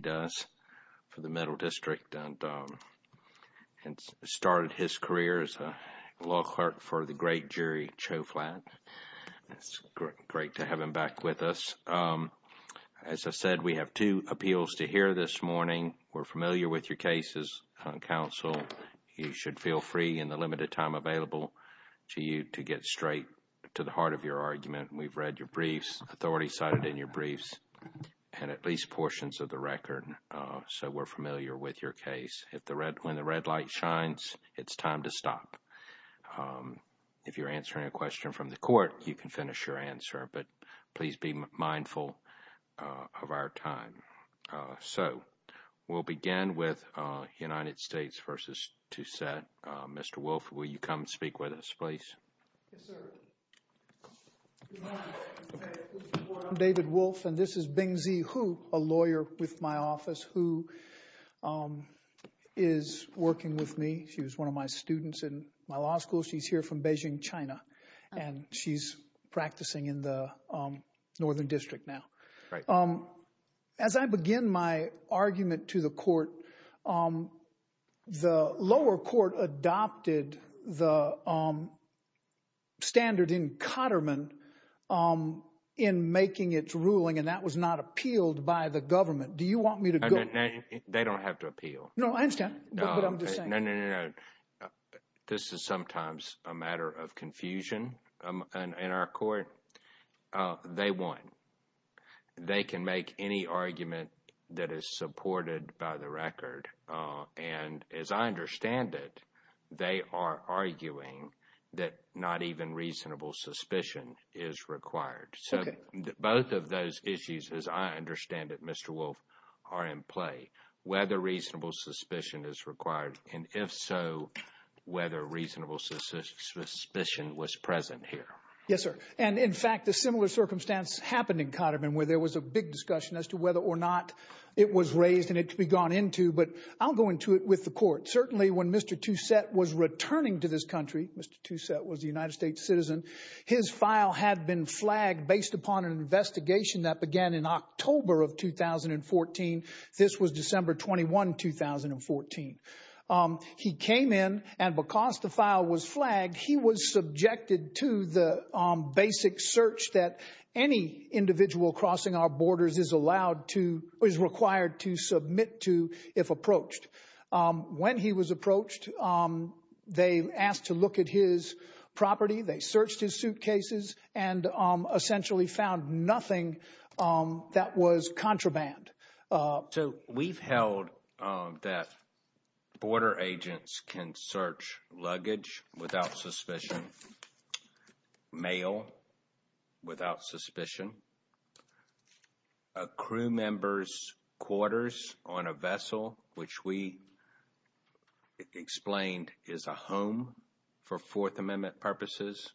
does for the Middle District and started his career as a law clerk for the great Jerry Choflat. It's great to have him back with us. As I said, we have two appeals to hear this morning. We're familiar with your cases, counsel. You should feel free in the limited time available to you to get straight to the heart of your argument. We've read your briefs, authority cited in your so we're familiar with your case. When the red light shines, it's time to stop. If you're answering a question from the court, you can finish your answer, but please be mindful of our time. So we'll begin with United States v. Touset. Mr. Wolfe, will you come speak with us, please? Yes, sir. Good morning. I'm David Wolfe, and this is Bingzi Hu, a lawyer with my office who is working with me. She was one of my students in my law school. She's here from Beijing, China, and she's practicing in the Northern District now. As I begin my argument to the court, um, the lower court adopted the, um, standard in Cotterman, um, in making its ruling, and that was not appealed by the government. Do you want me to go? They don't have to appeal. No, I understand. This is sometimes a matter of confusion in our court. They won. They can make any argument that is supported by the record, and as I understand it, they are arguing that not even reasonable suspicion is required. So both of those issues, as I understand it, Mr. Wolfe, are in play. Whether reasonable suspicion is required, and if so, whether reasonable suspicion was present here. Yes, sir. And in fact, a similar circumstance happened in Cotterman where there was a big discussion as to whether or not it was raised and it could be gone into, but I'll go into it with the court. Certainly when Mr. Toussaint was returning to this country, Mr. Toussaint was a United States citizen, his file had been flagged based upon an investigation that began in October of 2014. This was December 21, 2014. He came in, and because the file was flagged, he was subjected to the, um, basic search that any individual crossing our borders is allowed to, is required to submit to if approached. When he was approached, they asked to look at his property. They searched his suitcases and essentially found nothing that was contraband. So we've held that border agents can search luggage without suspicion, mail without suspicion, a crew member's quarters on a vessel, which we explained is a home for Fourth Amendment purposes,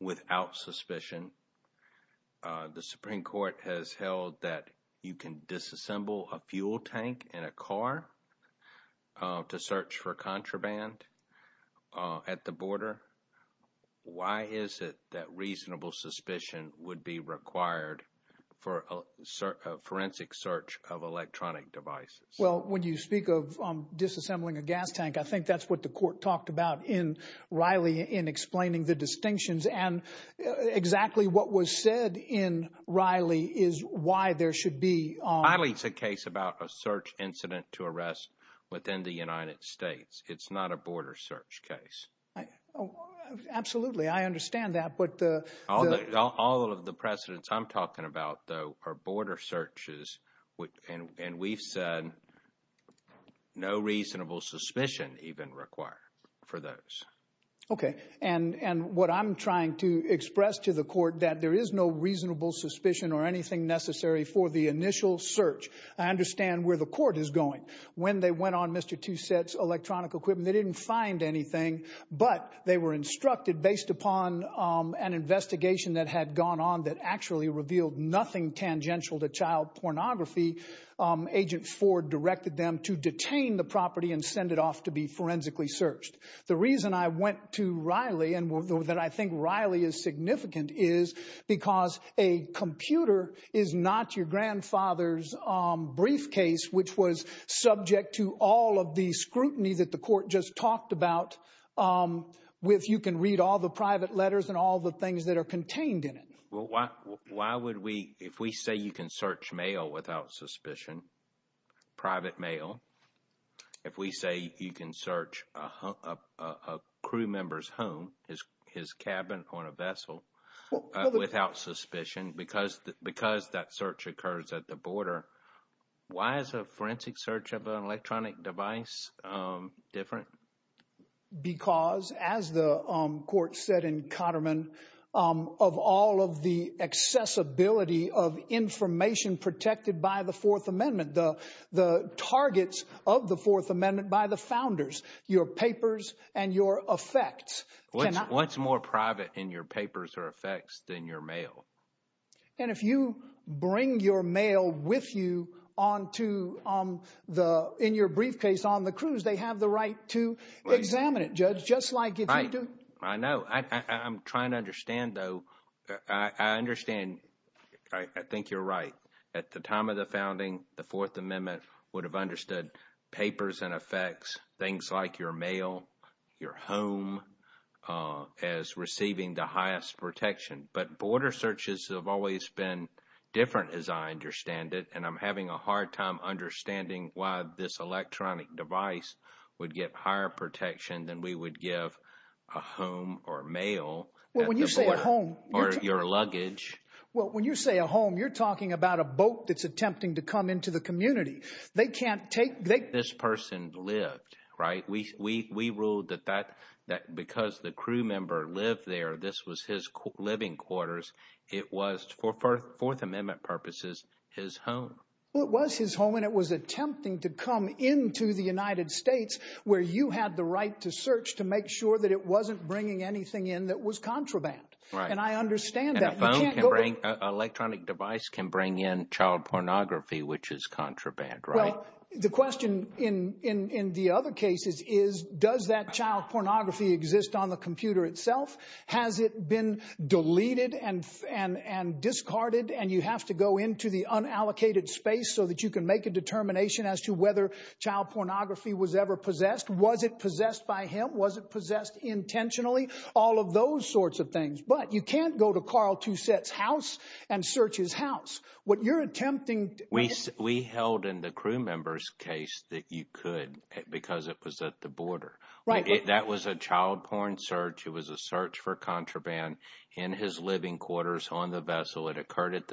without suspicion. The Supreme Court has held that you can disassemble a fuel tank in a car to search for contraband at the border. Why is it that reasonable suspicion would be required for a forensic search of electronic devices? Well, when you speak of disassembling a gas tank, I think that's what the court talked about in Riley in explaining the distinctions and exactly what was said in Riley is why there should be... Riley's a case about a search incident to arrest within the United States. It's not a border search case. Absolutely. I understand that, but the... All of the precedents I'm talking about, though, are border searches, and we've said no reasonable suspicion even required for those. Okay. And what I'm trying to express to the court, that there is no reasonable suspicion or anything necessary for the initial search. I understand where the court is going. When they went on Mr. Toussaint's electronic equipment, they didn't find anything, but they were instructed based upon an investigation that had gone on that actually revealed nothing tangential to child pornography. Agent Ford directed them to detain the property and send it off to be forensically searched. The reason I went to Riley and that I think Riley is significant is because a computer is not your grandfather's briefcase, which was subject to all of the scrutiny that the court just talked about with you can read all the private letters and all the things that are contained in it. Well, why would we... If we say you can search mail without suspicion, private mail, if we say you can search a crew member's home, his cabin on a vessel without suspicion because that search occurs at the border, why is a forensic search of an electronic device different? Because as the court said in Cotterman, of all of the accessibility of information protected by the targets of the Fourth Amendment by the founders, your papers and your effects... What's more private in your papers or effects than your mail? And if you bring your mail with you on to the... In your briefcase on the cruise, they have the right to examine it, Judge, just like if you do. I know. I'm trying to understand though. I understand. I think you're right. At the time of the founding, the Fourth Amendment would have understood papers and effects, things like your mail, your home as receiving the highest protection. But border searches have always been different as I understand it. And I'm having a hard time understanding why this electronic device would get higher protection than we would give a home or mail at the border or your luggage. Well, when you say a home, you're talking about a boat that's attempting to come into the community. They can't take... This person lived, right? We ruled that because the crew member lived there, this was his living quarters. It was for Fourth Amendment purposes, his home. Well, it was his home and it was attempting to come into the United States where you had the right to search to make sure that it wasn't bringing anything in that was contraband. And I understand that. And a phone can bring... An electronic device can bring in child pornography, which is contraband, right? Well, the question in the other cases is, does that child pornography exist on the computer itself? Has it been deleted and discarded and you have to go into the unallocated space so that you can make a determination as to whether child pornography was ever possessed? Was it possessed by him? Was it possessed intentionally? All of those sorts of things. But you can't go to Carl Two-Set's house and search his house. What you're attempting... We held in the crew member's case that you could because it was at the border. Right. That was a child porn search. It was a search for contraband in his living quarters on the vessel. It occurred at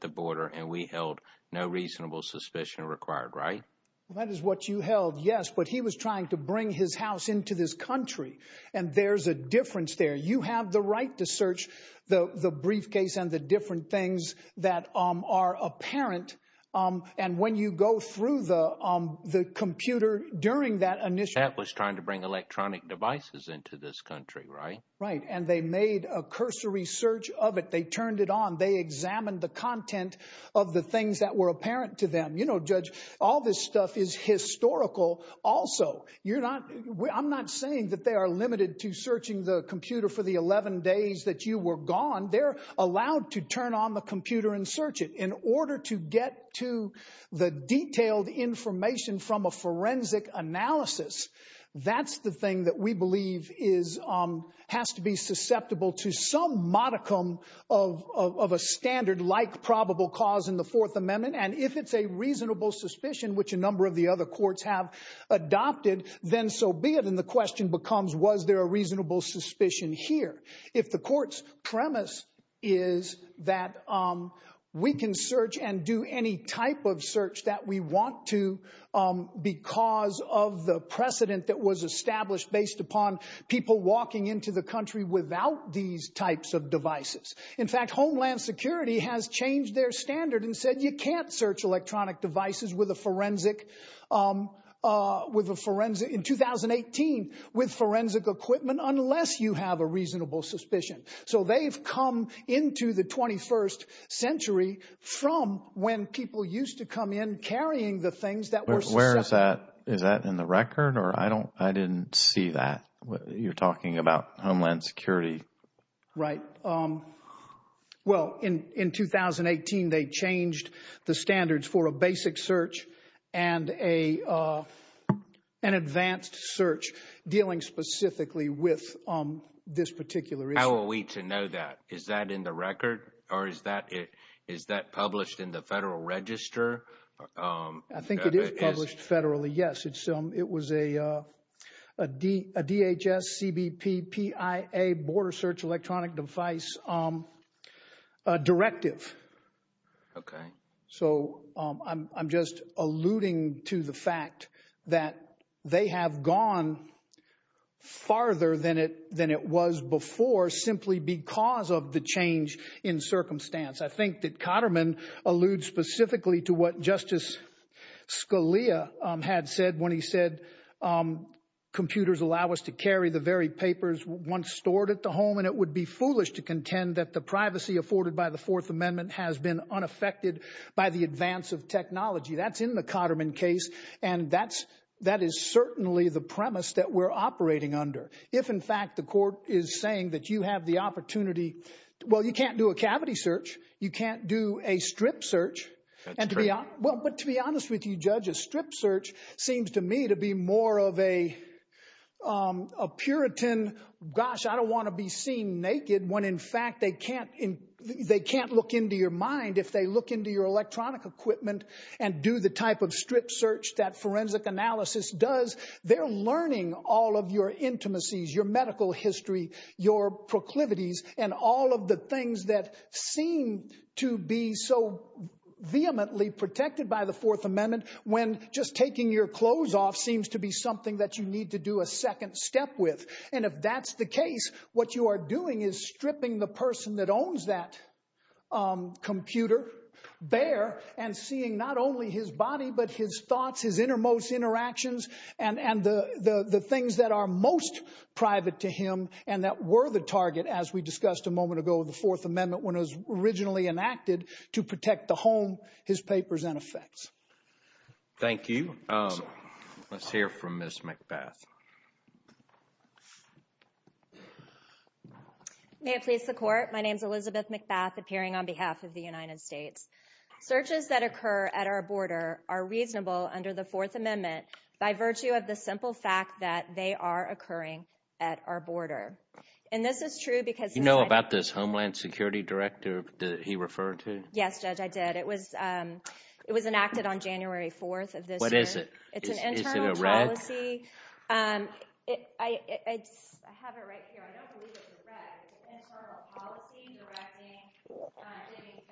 the border and we held no reasonable suspicion required, right? Well, that is what you held, yes. But he was trying to bring his house into this country. And there's a difference there. You have the right to search the briefcase and the different things that are apparent. And when you go through the computer during that initial... That was trying to bring electronic devices into this country, right? Right. And they made a cursory search of it. They turned it on. They examined the content of the things that were apparent to them. You know, Judge, all this stuff is historical also. I'm not saying that they are limited to searching the computer for the 11 days that you were gone. They're allowed to turn on the computer and search it in order to get to the detailed information from a forensic analysis. That's the thing that we believe has to be susceptible to some modicum of a standard-like probable cause in the Fourth Amendment. And if it's a reasonable suspicion, which a number of the other courts have adopted, then so be it. And the question becomes, was there a reasonable suspicion here? If the court's premise is that we can search and do any type of search that we want to because of the precedent that was established based upon people walking into the country without these types of devices. In fact, Homeland Security has changed their standard and said, you can't search electronic devices in 2018 with forensic equipment unless you have a reasonable suspicion. So they've come into the 21st century from when people used to come in carrying the things that were susceptible. Where is that? Is that in the record? I didn't see that. You're talking about Homeland Security. Right. Well, in 2018, they changed the standards for a basic search and an advanced search dealing specifically with this particular issue. How are we to know that? Is that in the record or is that published in the Federal Register? I think it is published federally, yes. It was a DHS CBP PIA border search electronic device directive. So I'm just alluding to the fact that they have gone farther than it was before simply because of the change in circumstance. I think that Katterman alludes specifically to what Justice Scalia had said when he said computers allow us to carry the very papers once stored at the home. And it would be foolish to contend that the privacy afforded by the Fourth Amendment has been unaffected by the advance of technology. That's in the Katterman case. And that is certainly the premise that we're operating under. If, in fact, the court is searching, that's true. Well, but to be honest with you, Judge, a strip search seems to me to be more of a Puritan, gosh, I don't want to be seen naked when, in fact, they can't look into your mind if they look into your electronic equipment and do the type of strip search that forensic analysis does. They're learning all of your intimacies, your medical history, your proclivities and all of the things that seem to be so vehemently protected by the Fourth Amendment when just taking your clothes off seems to be something that you need to do a second step with. And if that's the case, what you are doing is stripping the person that owns that computer bare and seeing not only his body, but his thoughts, his innermost interactions, and the things that are most private to him and that were the target, as we discussed a moment ago, of the Fourth Amendment when it was originally enacted to protect the home, his papers and effects. Thank you. Let's hear from Ms. McBath. May it please the Court. My name is Elizabeth McBath, appearing on behalf of the United States. Searches that occur at our border are reasonable under the Fourth Amendment by virtue of the simple fact that they are occurring at our border. And this is true because... You know about this Homeland Security Director that he referred to? Yes, Judge, I did. It was, um, it was enacted on January 4th of this year. What is it? It's an internal policy, um, I have it right here. I don't believe it's a wreck. It's an internal policy directing, um, giving guidance,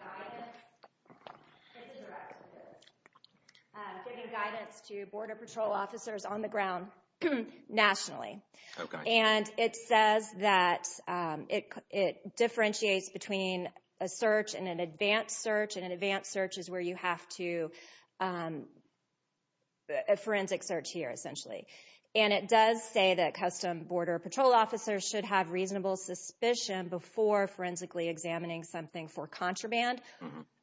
giving guidance to border patrol officers on the ground nationally. And it says that, um, it, it differentiates between a search and an advanced search. And an advanced search is where you have to, um, a forensic search here, essentially. And it does say that custom border patrol officers should have reasonable suspicion before forensically examining something for contraband.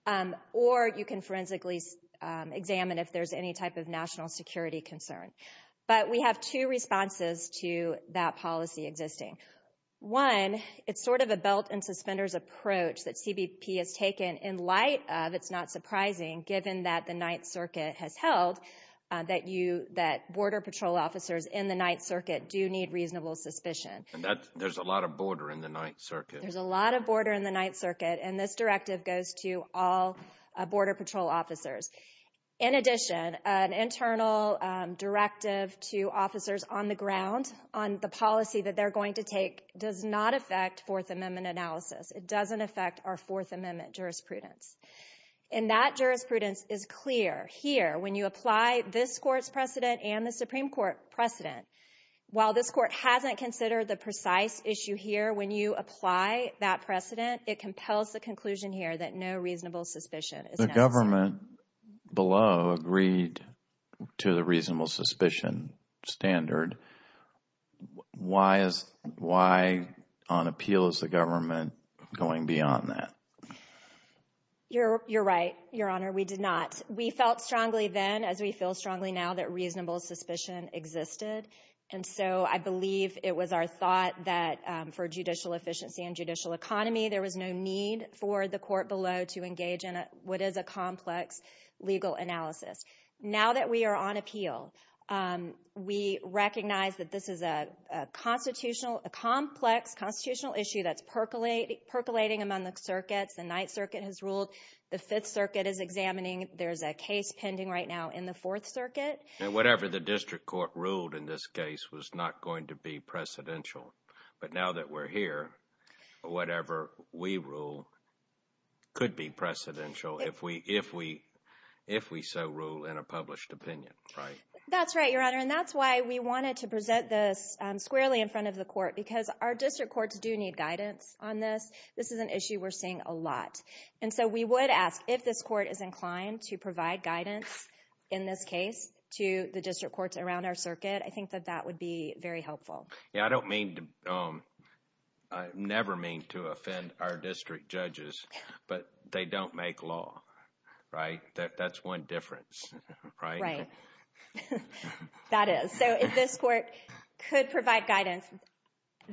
Um, or you can forensically, um, examine if there's any type of national security concern. But we have two responses to that policy existing. One, it's sort of a belt and suspenders approach that CBP has taken in light of, it's not officers in the Ninth Circuit do need reasonable suspicion. And that, there's a lot of border in the Ninth Circuit. There's a lot of border in the Ninth Circuit. And this directive goes to all, uh, border patrol officers. In addition, an internal, um, directive to officers on the ground, on the policy that they're going to take does not affect Fourth Amendment analysis. It doesn't affect our Fourth Amendment jurisprudence. And that jurisprudence is clear here. When you apply this court's precedent and the Supreme Court precedent, while this court hasn't considered the precise issue here, when you apply that precedent, it compels the conclusion here that no reasonable suspicion is necessary. The government below agreed to the reasonable suspicion standard. Why is, why on appeal is the government going beyond that? You're, you're right, Your Honor. We did not. We felt strongly then as we feel strongly now that reasonable suspicion existed. And so I believe it was our thought that, um, for judicial efficiency and judicial economy, there was no need for the court below to engage in what is a complex legal analysis. Now that we are on appeal, um, we recognize that this is a constitutional, a complex constitutional issue that's percolating, percolating among the circuits. The Ninth Circuit has ruled. The Fifth Circuit is examining. There's a case pending right now in the Fourth Circuit. And whatever the district court ruled in this case was not going to be precedential. But now that we're here, whatever we rule could be precedential if we, if we, if we so rule in a published opinion, right? That's right, Your Honor. And that's why we because our district courts do need guidance on this. This is an issue we're seeing a lot. And so we would ask if this court is inclined to provide guidance in this case to the district courts around our circuit, I think that that would be very helpful. Yeah, I don't mean to, um, I never mean to offend our district judges, but they don't make law, right? That's one difference, right? That is. So if this court could provide guidance,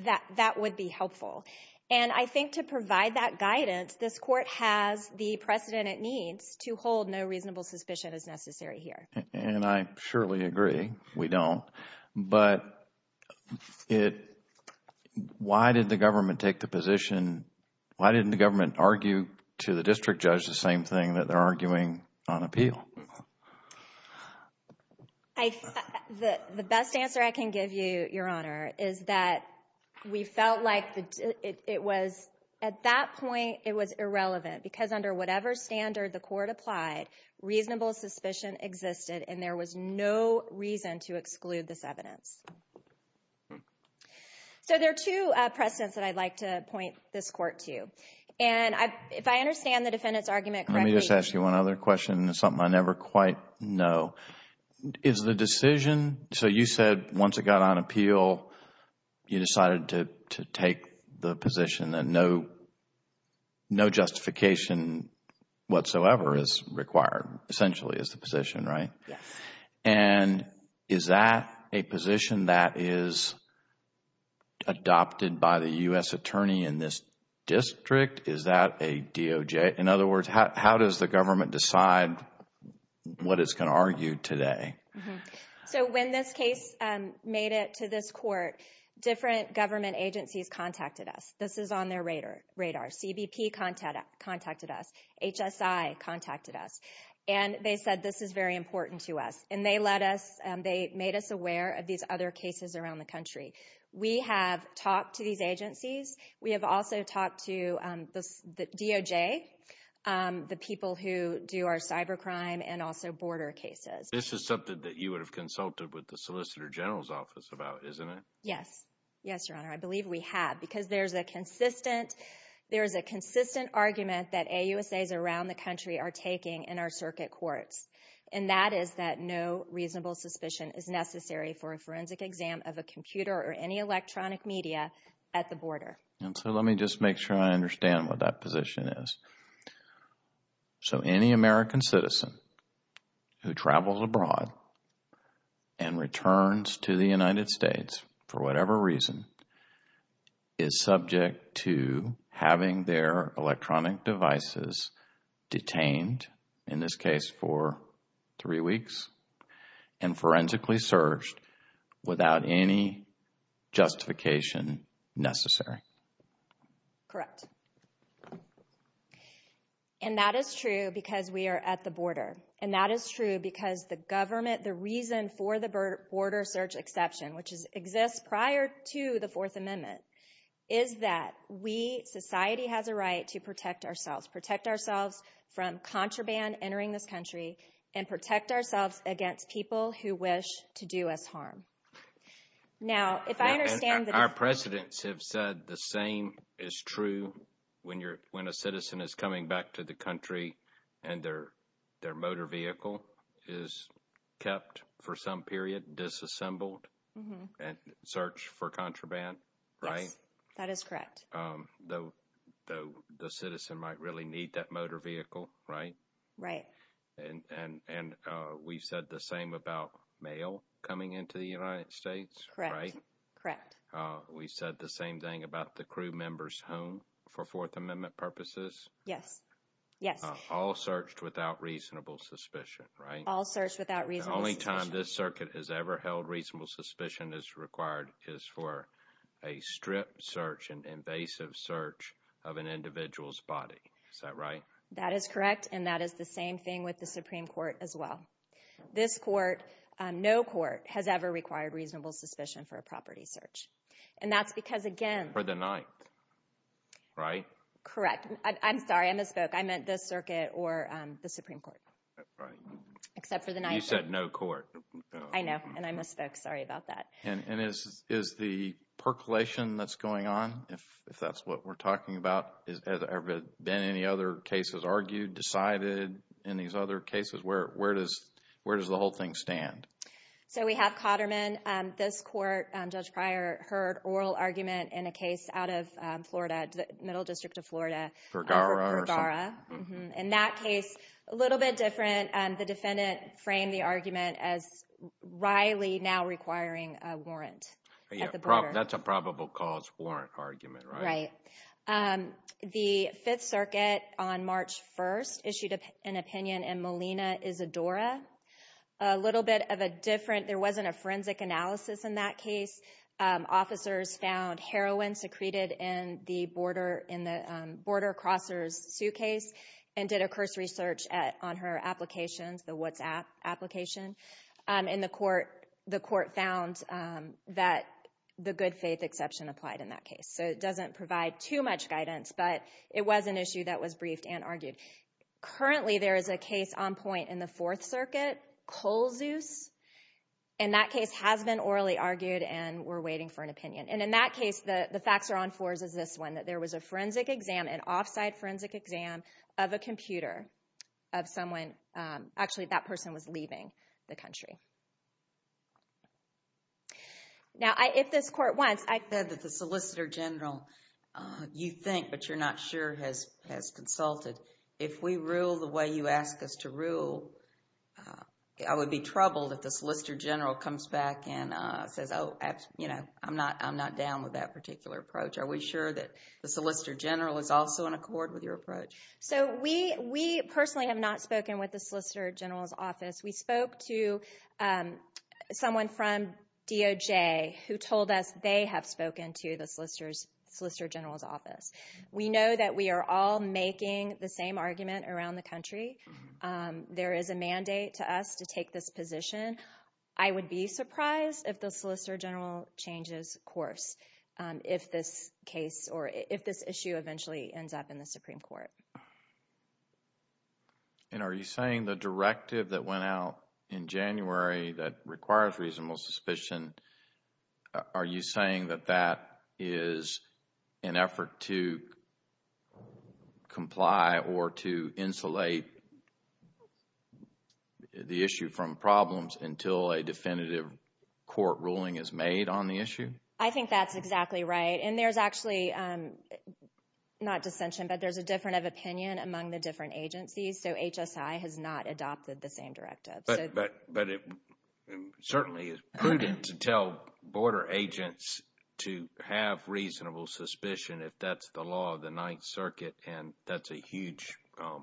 that, that would be helpful. And I think to provide that guidance, this court has the precedent it needs to hold no reasonable suspicion as necessary here. And I surely agree. We don't. But it, why did the government take the position? Why didn't the government argue to the district judge the same thing that they're doing? I, the best answer I can give you, Your Honor, is that we felt like it was, at that point, it was irrelevant because under whatever standard the court applied, reasonable suspicion existed, and there was no reason to exclude this evidence. So there are two precedents that I'd like to point this court to. And I, if I understand the defendant's argument correctly. Let me just ask you one other question. It's something I never quite know. Is the decision, so you said once it got on appeal, you decided to, to take the position that no, no justification whatsoever is required, essentially is the position, right? And is that a position that is adopted by the U.S. attorney in this district? Is that a DOJ? In other words, how does the government decide what it's going to argue today? So when this case made it to this court, different government agencies contacted us. This is on their radar. CBP contacted us. HSI contacted us. And they said this is very important to us. And they let us, they made us aware of these other cases around the country. We have talked to these agencies. We have also talked to the DOJ, the people who do our cyber crime and also border cases. This is something that you would have consulted with the Solicitor General's office about, isn't it? Yes. Yes, Your Honor. I believe we have because there's a consistent, there's a consistent argument that AUSAs around the country are taking in our circuit courts. And that is that no reasonable suspicion is necessary for a forensic exam of a computer or any electronic media at the border. And so let me just make sure I understand what that position is. So any American citizen who travels abroad and returns to the United States for whatever reason is subject to having their electronic devices detained, in this case for three weeks, and forensically searched without any justification necessary. Correct. And that is true because we are at the border. And that is true because the government, the reason for the border search exception, which exists prior to the Fourth Amendment, is that we, society, has a right to protect ourselves, protect ourselves from contraband entering this country and protect ourselves against people who wish to do us harm. Now, if I understand... Our presidents have said the same is true when you're, when a citizen is coming back to the country and their, their motor vehicle is kept for some period, disassembled and searched for contraband, right? That is correct. Though the citizen might really need that motor vehicle, right? Right. And we've said the same about mail coming into the United States, right? Correct, correct. We said the same thing about the crew members home for Fourth Amendment purposes? Yes, yes. All searched without reasonable suspicion, right? All searched without reasonable suspicion. The only time this circuit has ever held reasonable suspicion is required is for a strip search, an invasive search of an individual's body. Is that right? That is correct. And that is the same thing with the Supreme Court as well. This court, no court, has ever required reasonable suspicion for a property search. And that's because, again... For the Ninth, right? Correct. I'm sorry, I misspoke. I meant this circuit or the Supreme Court. Right. Except for the Ninth. You said no court. I know, and I misspoke. Sorry about that. And, and is, is the percolation that's going on, if, if that's what we're talking about, is, has there ever been any other cases argued, decided in these other cases? Where, where does, where does the whole thing stand? So we have Cotterman. This court, Judge Pryor, heard oral argument in a case out of Florida, the Middle District of Florida. Vergara? Vergara. In that case, a little bit different. The defendant framed the argument as wryly now requiring a warrant. Yeah, that's a probable cause warrant argument, right? Right. The Fifth Circuit on March 1st issued an opinion in Molina Isadora. A little bit of a different, there wasn't a forensic analysis in that case. Officers found heroin secreted in the border, in the border crosser's suitcase and did a cursory search at, on her applications, the WhatsApp application. In the court, the court found that the good faith exception applied in that case. So it doesn't provide too much guidance, but it was an issue that was briefed and argued. Currently, there is a case on point in the Fourth Circuit, and we're waiting for an opinion. And in that case, the facts are on fours as this one, that there was a forensic exam, an off-site forensic exam of a computer of someone, actually that person was leaving the country. Now, I, if this court wants, I said that the Solicitor General, you think, but you're not sure, has, has consulted. If we rule the way you ask us to rule, I would be troubled if the Solicitor General comes back and says, oh, you know, I'm not, I'm not down with that particular approach. Are we sure that the Solicitor General is also in accord with your approach? So we, we personally have not spoken with the Solicitor General's office. We spoke to someone from DOJ who told us they have spoken to the Solicitor's, Solicitor General's office. We know that we are all making the same argument around the country. There is a mandate to us to take this position. I would be surprised if the Solicitor General changes course, if this case, or if this issue eventually ends up in the Supreme Court. And are you saying the directive that went out in January that requires reasonable suspicion, are you saying that that is an effort to comply or to insulate the issue from problems until a definitive court ruling is made on the issue? I think that's exactly right. And there's actually, not dissension, but there's a difference of opinion among the different agencies. So HSI has not adopted the same directive. But, but, but it certainly is prudent to tell border agents to have reasonable suspicion if that's the law of the Ninth Circuit and that's a huge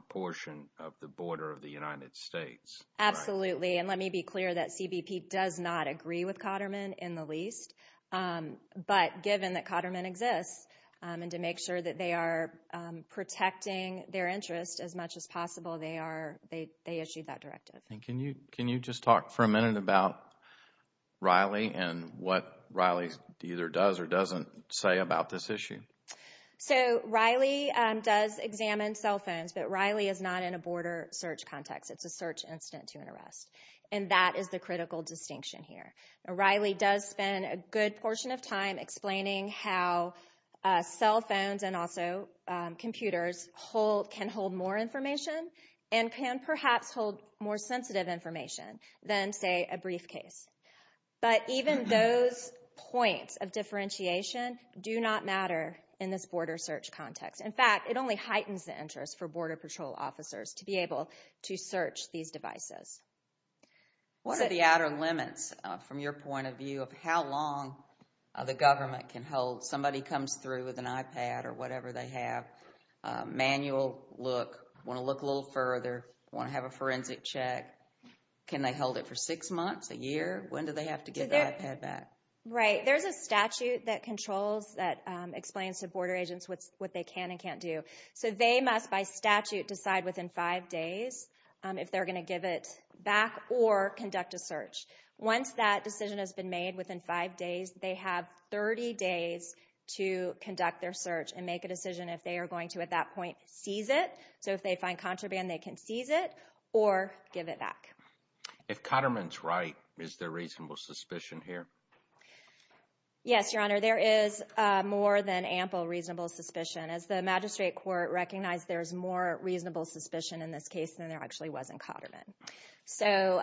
portion of the border of the United States. Absolutely. And let me be clear that CBP does not agree with Cotterman in the least. But given that Cotterman exists and to make sure that they are protecting their interest as much as possible, they are, they issued that directive. And can you, can you just talk for a minute about Riley and what Riley either does or doesn't say about this issue? So Riley does examine cell phones, but Riley is not in a border search context. It's a search incident to an arrest. And that is the critical distinction here. Riley does spend a good portion of time explaining how cell phones and also computers can hold more information and can perhaps hold more sensitive information than say a briefcase. But even those points of differentiation do not matter in this border search context. In fact, it only heightens the interest for border patrol officers to be able to search these devices. What are the outer limits from your point of view of how long the government can hold? Somebody comes through with an iPad or whatever they have, a manual look, want to look a little further, want to have a forensic check. Can they hold it for six months, a year? When do they have to get their iPad back? Right. There's a statute that controls, that explains to border agents what they can and can't do. So they must by statute decide within five days if they're going to give it back or conduct a search. Once that decision has been made within five days, they have 30 days to conduct their search and make a decision if they are going to at that point seize it. So if they find contraband, they can seize it or give it back. If Cotterman's right, is there reasonable suspicion here? Yes, Your Honor, there is more than ample reasonable suspicion. As the magistrate court recognized, there is more reasonable suspicion in this case than there actually was in Cotterman. So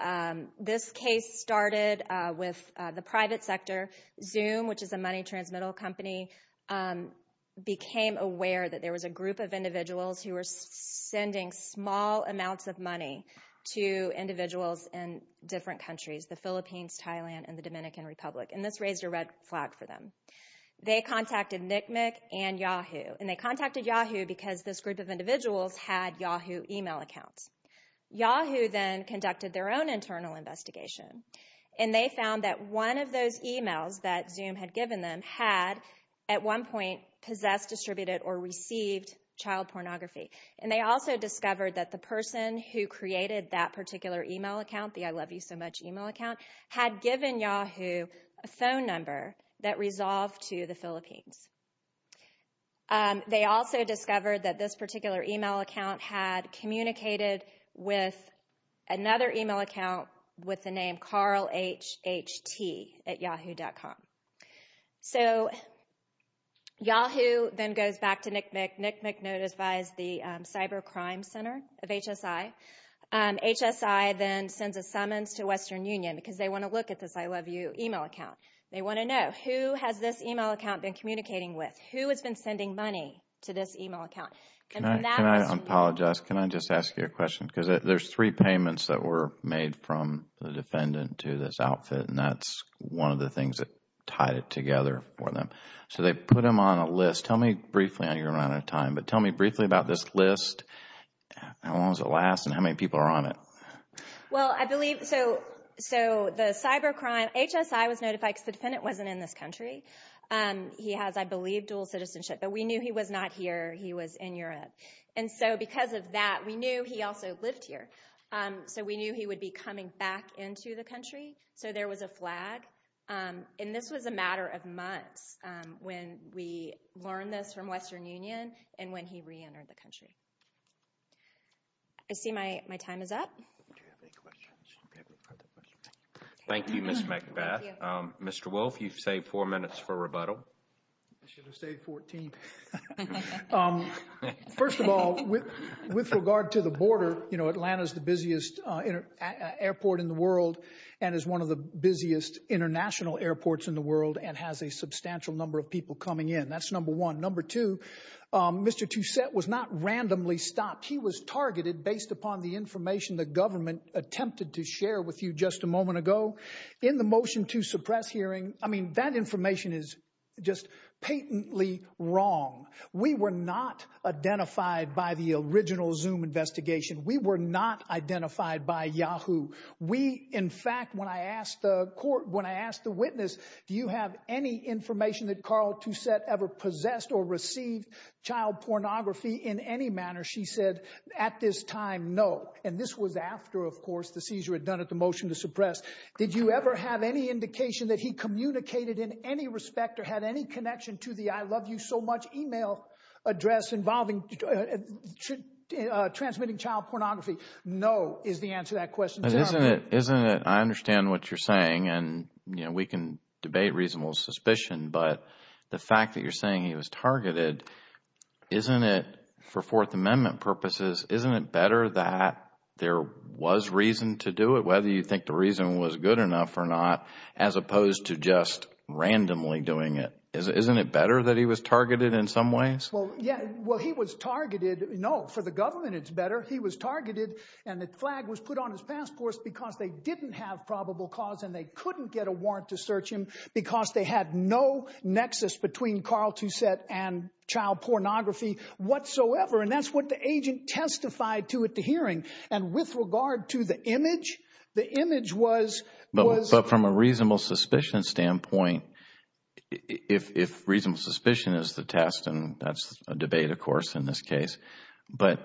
this case started with the private sector. Zoom, which is a money transmittal company, became aware that there was a group of individuals who were sending small amounts of money to individuals in different countries, the Philippines, Thailand, and the Dominican Republic, and this raised a red flag for them. They contacted NCMEC and Yahoo, and they contacted Yahoo because this group of individuals had Yahoo email accounts. Yahoo then conducted their own internal investigation and they found that one of those emails that Zoom had given them had at one point possessed, distributed, or received child pornography. And they also discovered that the person who created that particular email account, the I Love You So Much email account, had given Yahoo a phone number that resolved to the Philippines. They also discovered that this particular email account had communicated with another email account with the name Carl HHT at Yahoo.com. So Yahoo then goes back to NCMEC. NCMEC notifies the Cybercrime Center of HSI. HSI then sends a summons to Western Union because they want to look at this I Love You email account. They want to know who has this email account been communicating with, who has been sending money to this email account. Can I apologize? Can I just ask you a question? Because there's three payments that were made from the defendant to this outfit, and that's one of the things that tied it together for them. So they put them on a list. Tell me briefly, I know you're running out of time, but tell me briefly about this list. How long does it last and how many people are on it? Well, I believe, so the cybercrime, HSI was notified because the defendant wasn't in this country. He has, I believe, dual citizenship. But we knew he was not here, he was in Europe. And so because of that, we knew he also lived here. So we knew he would be coming back into the country. So there was a flag. And this was a matter of months when we learned this from Western Union and when he reentered the country. I see my time is up. Thank you, Ms. McBath. Mr. Wolf, you've saved four minutes for rebuttal. I should have saved 14. First of all, with regard to the border, you know, Atlanta is the busiest airport in the world and is one of the busiest international airports in the world and has a substantial number of passengers. Mr. Toussaint was not randomly stopped. He was targeted based upon the information the government attempted to share with you just a moment ago in the motion to suppress hearing. I mean, that information is just patently wrong. We were not identified by the original Zoom investigation. We were not identified by Yahoo. We in fact, when I asked the court, when I asked the witness, do you have any information that Carl Toussaint ever possessed or received child pornography in any manner? She said at this time, no. And this was after, of course, the seizure had done it, the motion to suppress. Did you ever have any indication that he communicated in any respect or had any connection to the I love you so much email address involving transmitting child pornography? No, is the answer to that question. Isn't it? I understand what you're saying. And, you know, we can debate reasonable suspicion, but the fact that you're saying he was targeted, isn't it for Fourth Amendment purposes, isn't it better that there was reason to do it, whether you think the reason was good enough or not, as opposed to just randomly doing it? Isn't it better that he was targeted in some ways? Well, yeah. Well, he was targeted. No, for the government, it's better. He was targeted and the flag was put on his passport because they didn't have probable cause and they couldn't get warrant to search him because they had no nexus between Carl to set and child pornography whatsoever. And that's what the agent testified to at the hearing. And with regard to the image, the image was. But from a reasonable suspicion standpoint, if reasonable suspicion is the test and that's a debate, of course, in this case, but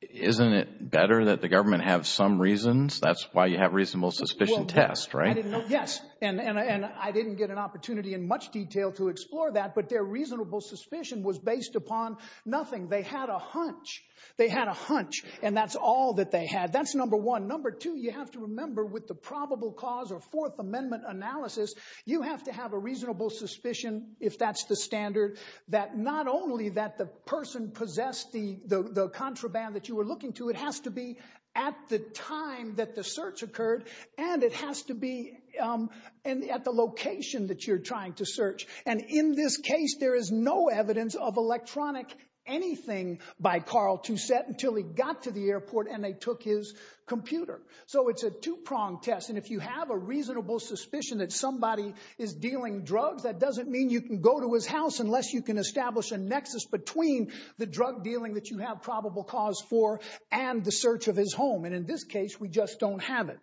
isn't it better that the government have some reasons? That's why you have reasonable suspicion test, right? Yes. And I didn't get an opportunity in much detail to explore that, but their reasonable suspicion was based upon nothing. They had a hunch. They had a hunch. And that's all that they had. That's number one. Number two, you have to remember with the probable cause or Fourth Amendment analysis, you have to have a reasonable suspicion. If that's the standard that not only that the person possessed the contraband that you were and it has to be at the location that you're trying to search. And in this case, there is no evidence of electronic anything by Carl to set until he got to the airport and they took his computer. So it's a two prong test. And if you have a reasonable suspicion that somebody is dealing drugs, that doesn't mean you can go to his house unless you can establish a nexus between the drug dealing that you have probable cause for and the search of his home. And in this case, we just don't have it.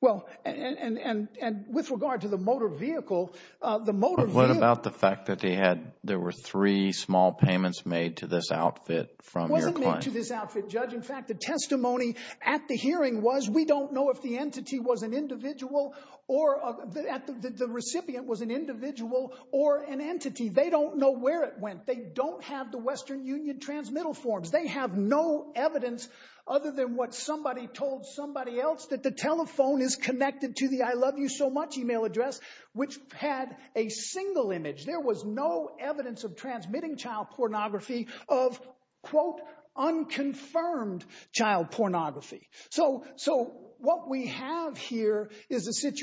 Well, and with regard to the motor vehicle, the motor. But what about the fact that they had there were three small payments made to this outfit from your client? Wasn't made to this outfit, Judge. In fact, the testimony at the hearing was we don't know if the entity was an individual or the recipient was an individual or an entity. They don't know where it went. They don't have the Western Union transmittal forms. They have no evidence other than what somebody told somebody else that the telephone is connected to the I love you so much email address, which had a single image. There was no evidence of transmitting child pornography of quote, unconfirmed child pornography. So so what we have here is a and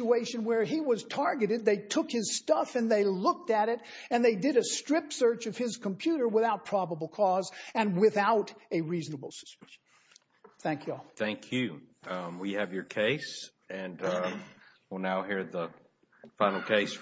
they did a strip search of his computer without probable cause and without a reasonable suspicion. Thank you. Thank you. We have your case and we'll now hear the final case.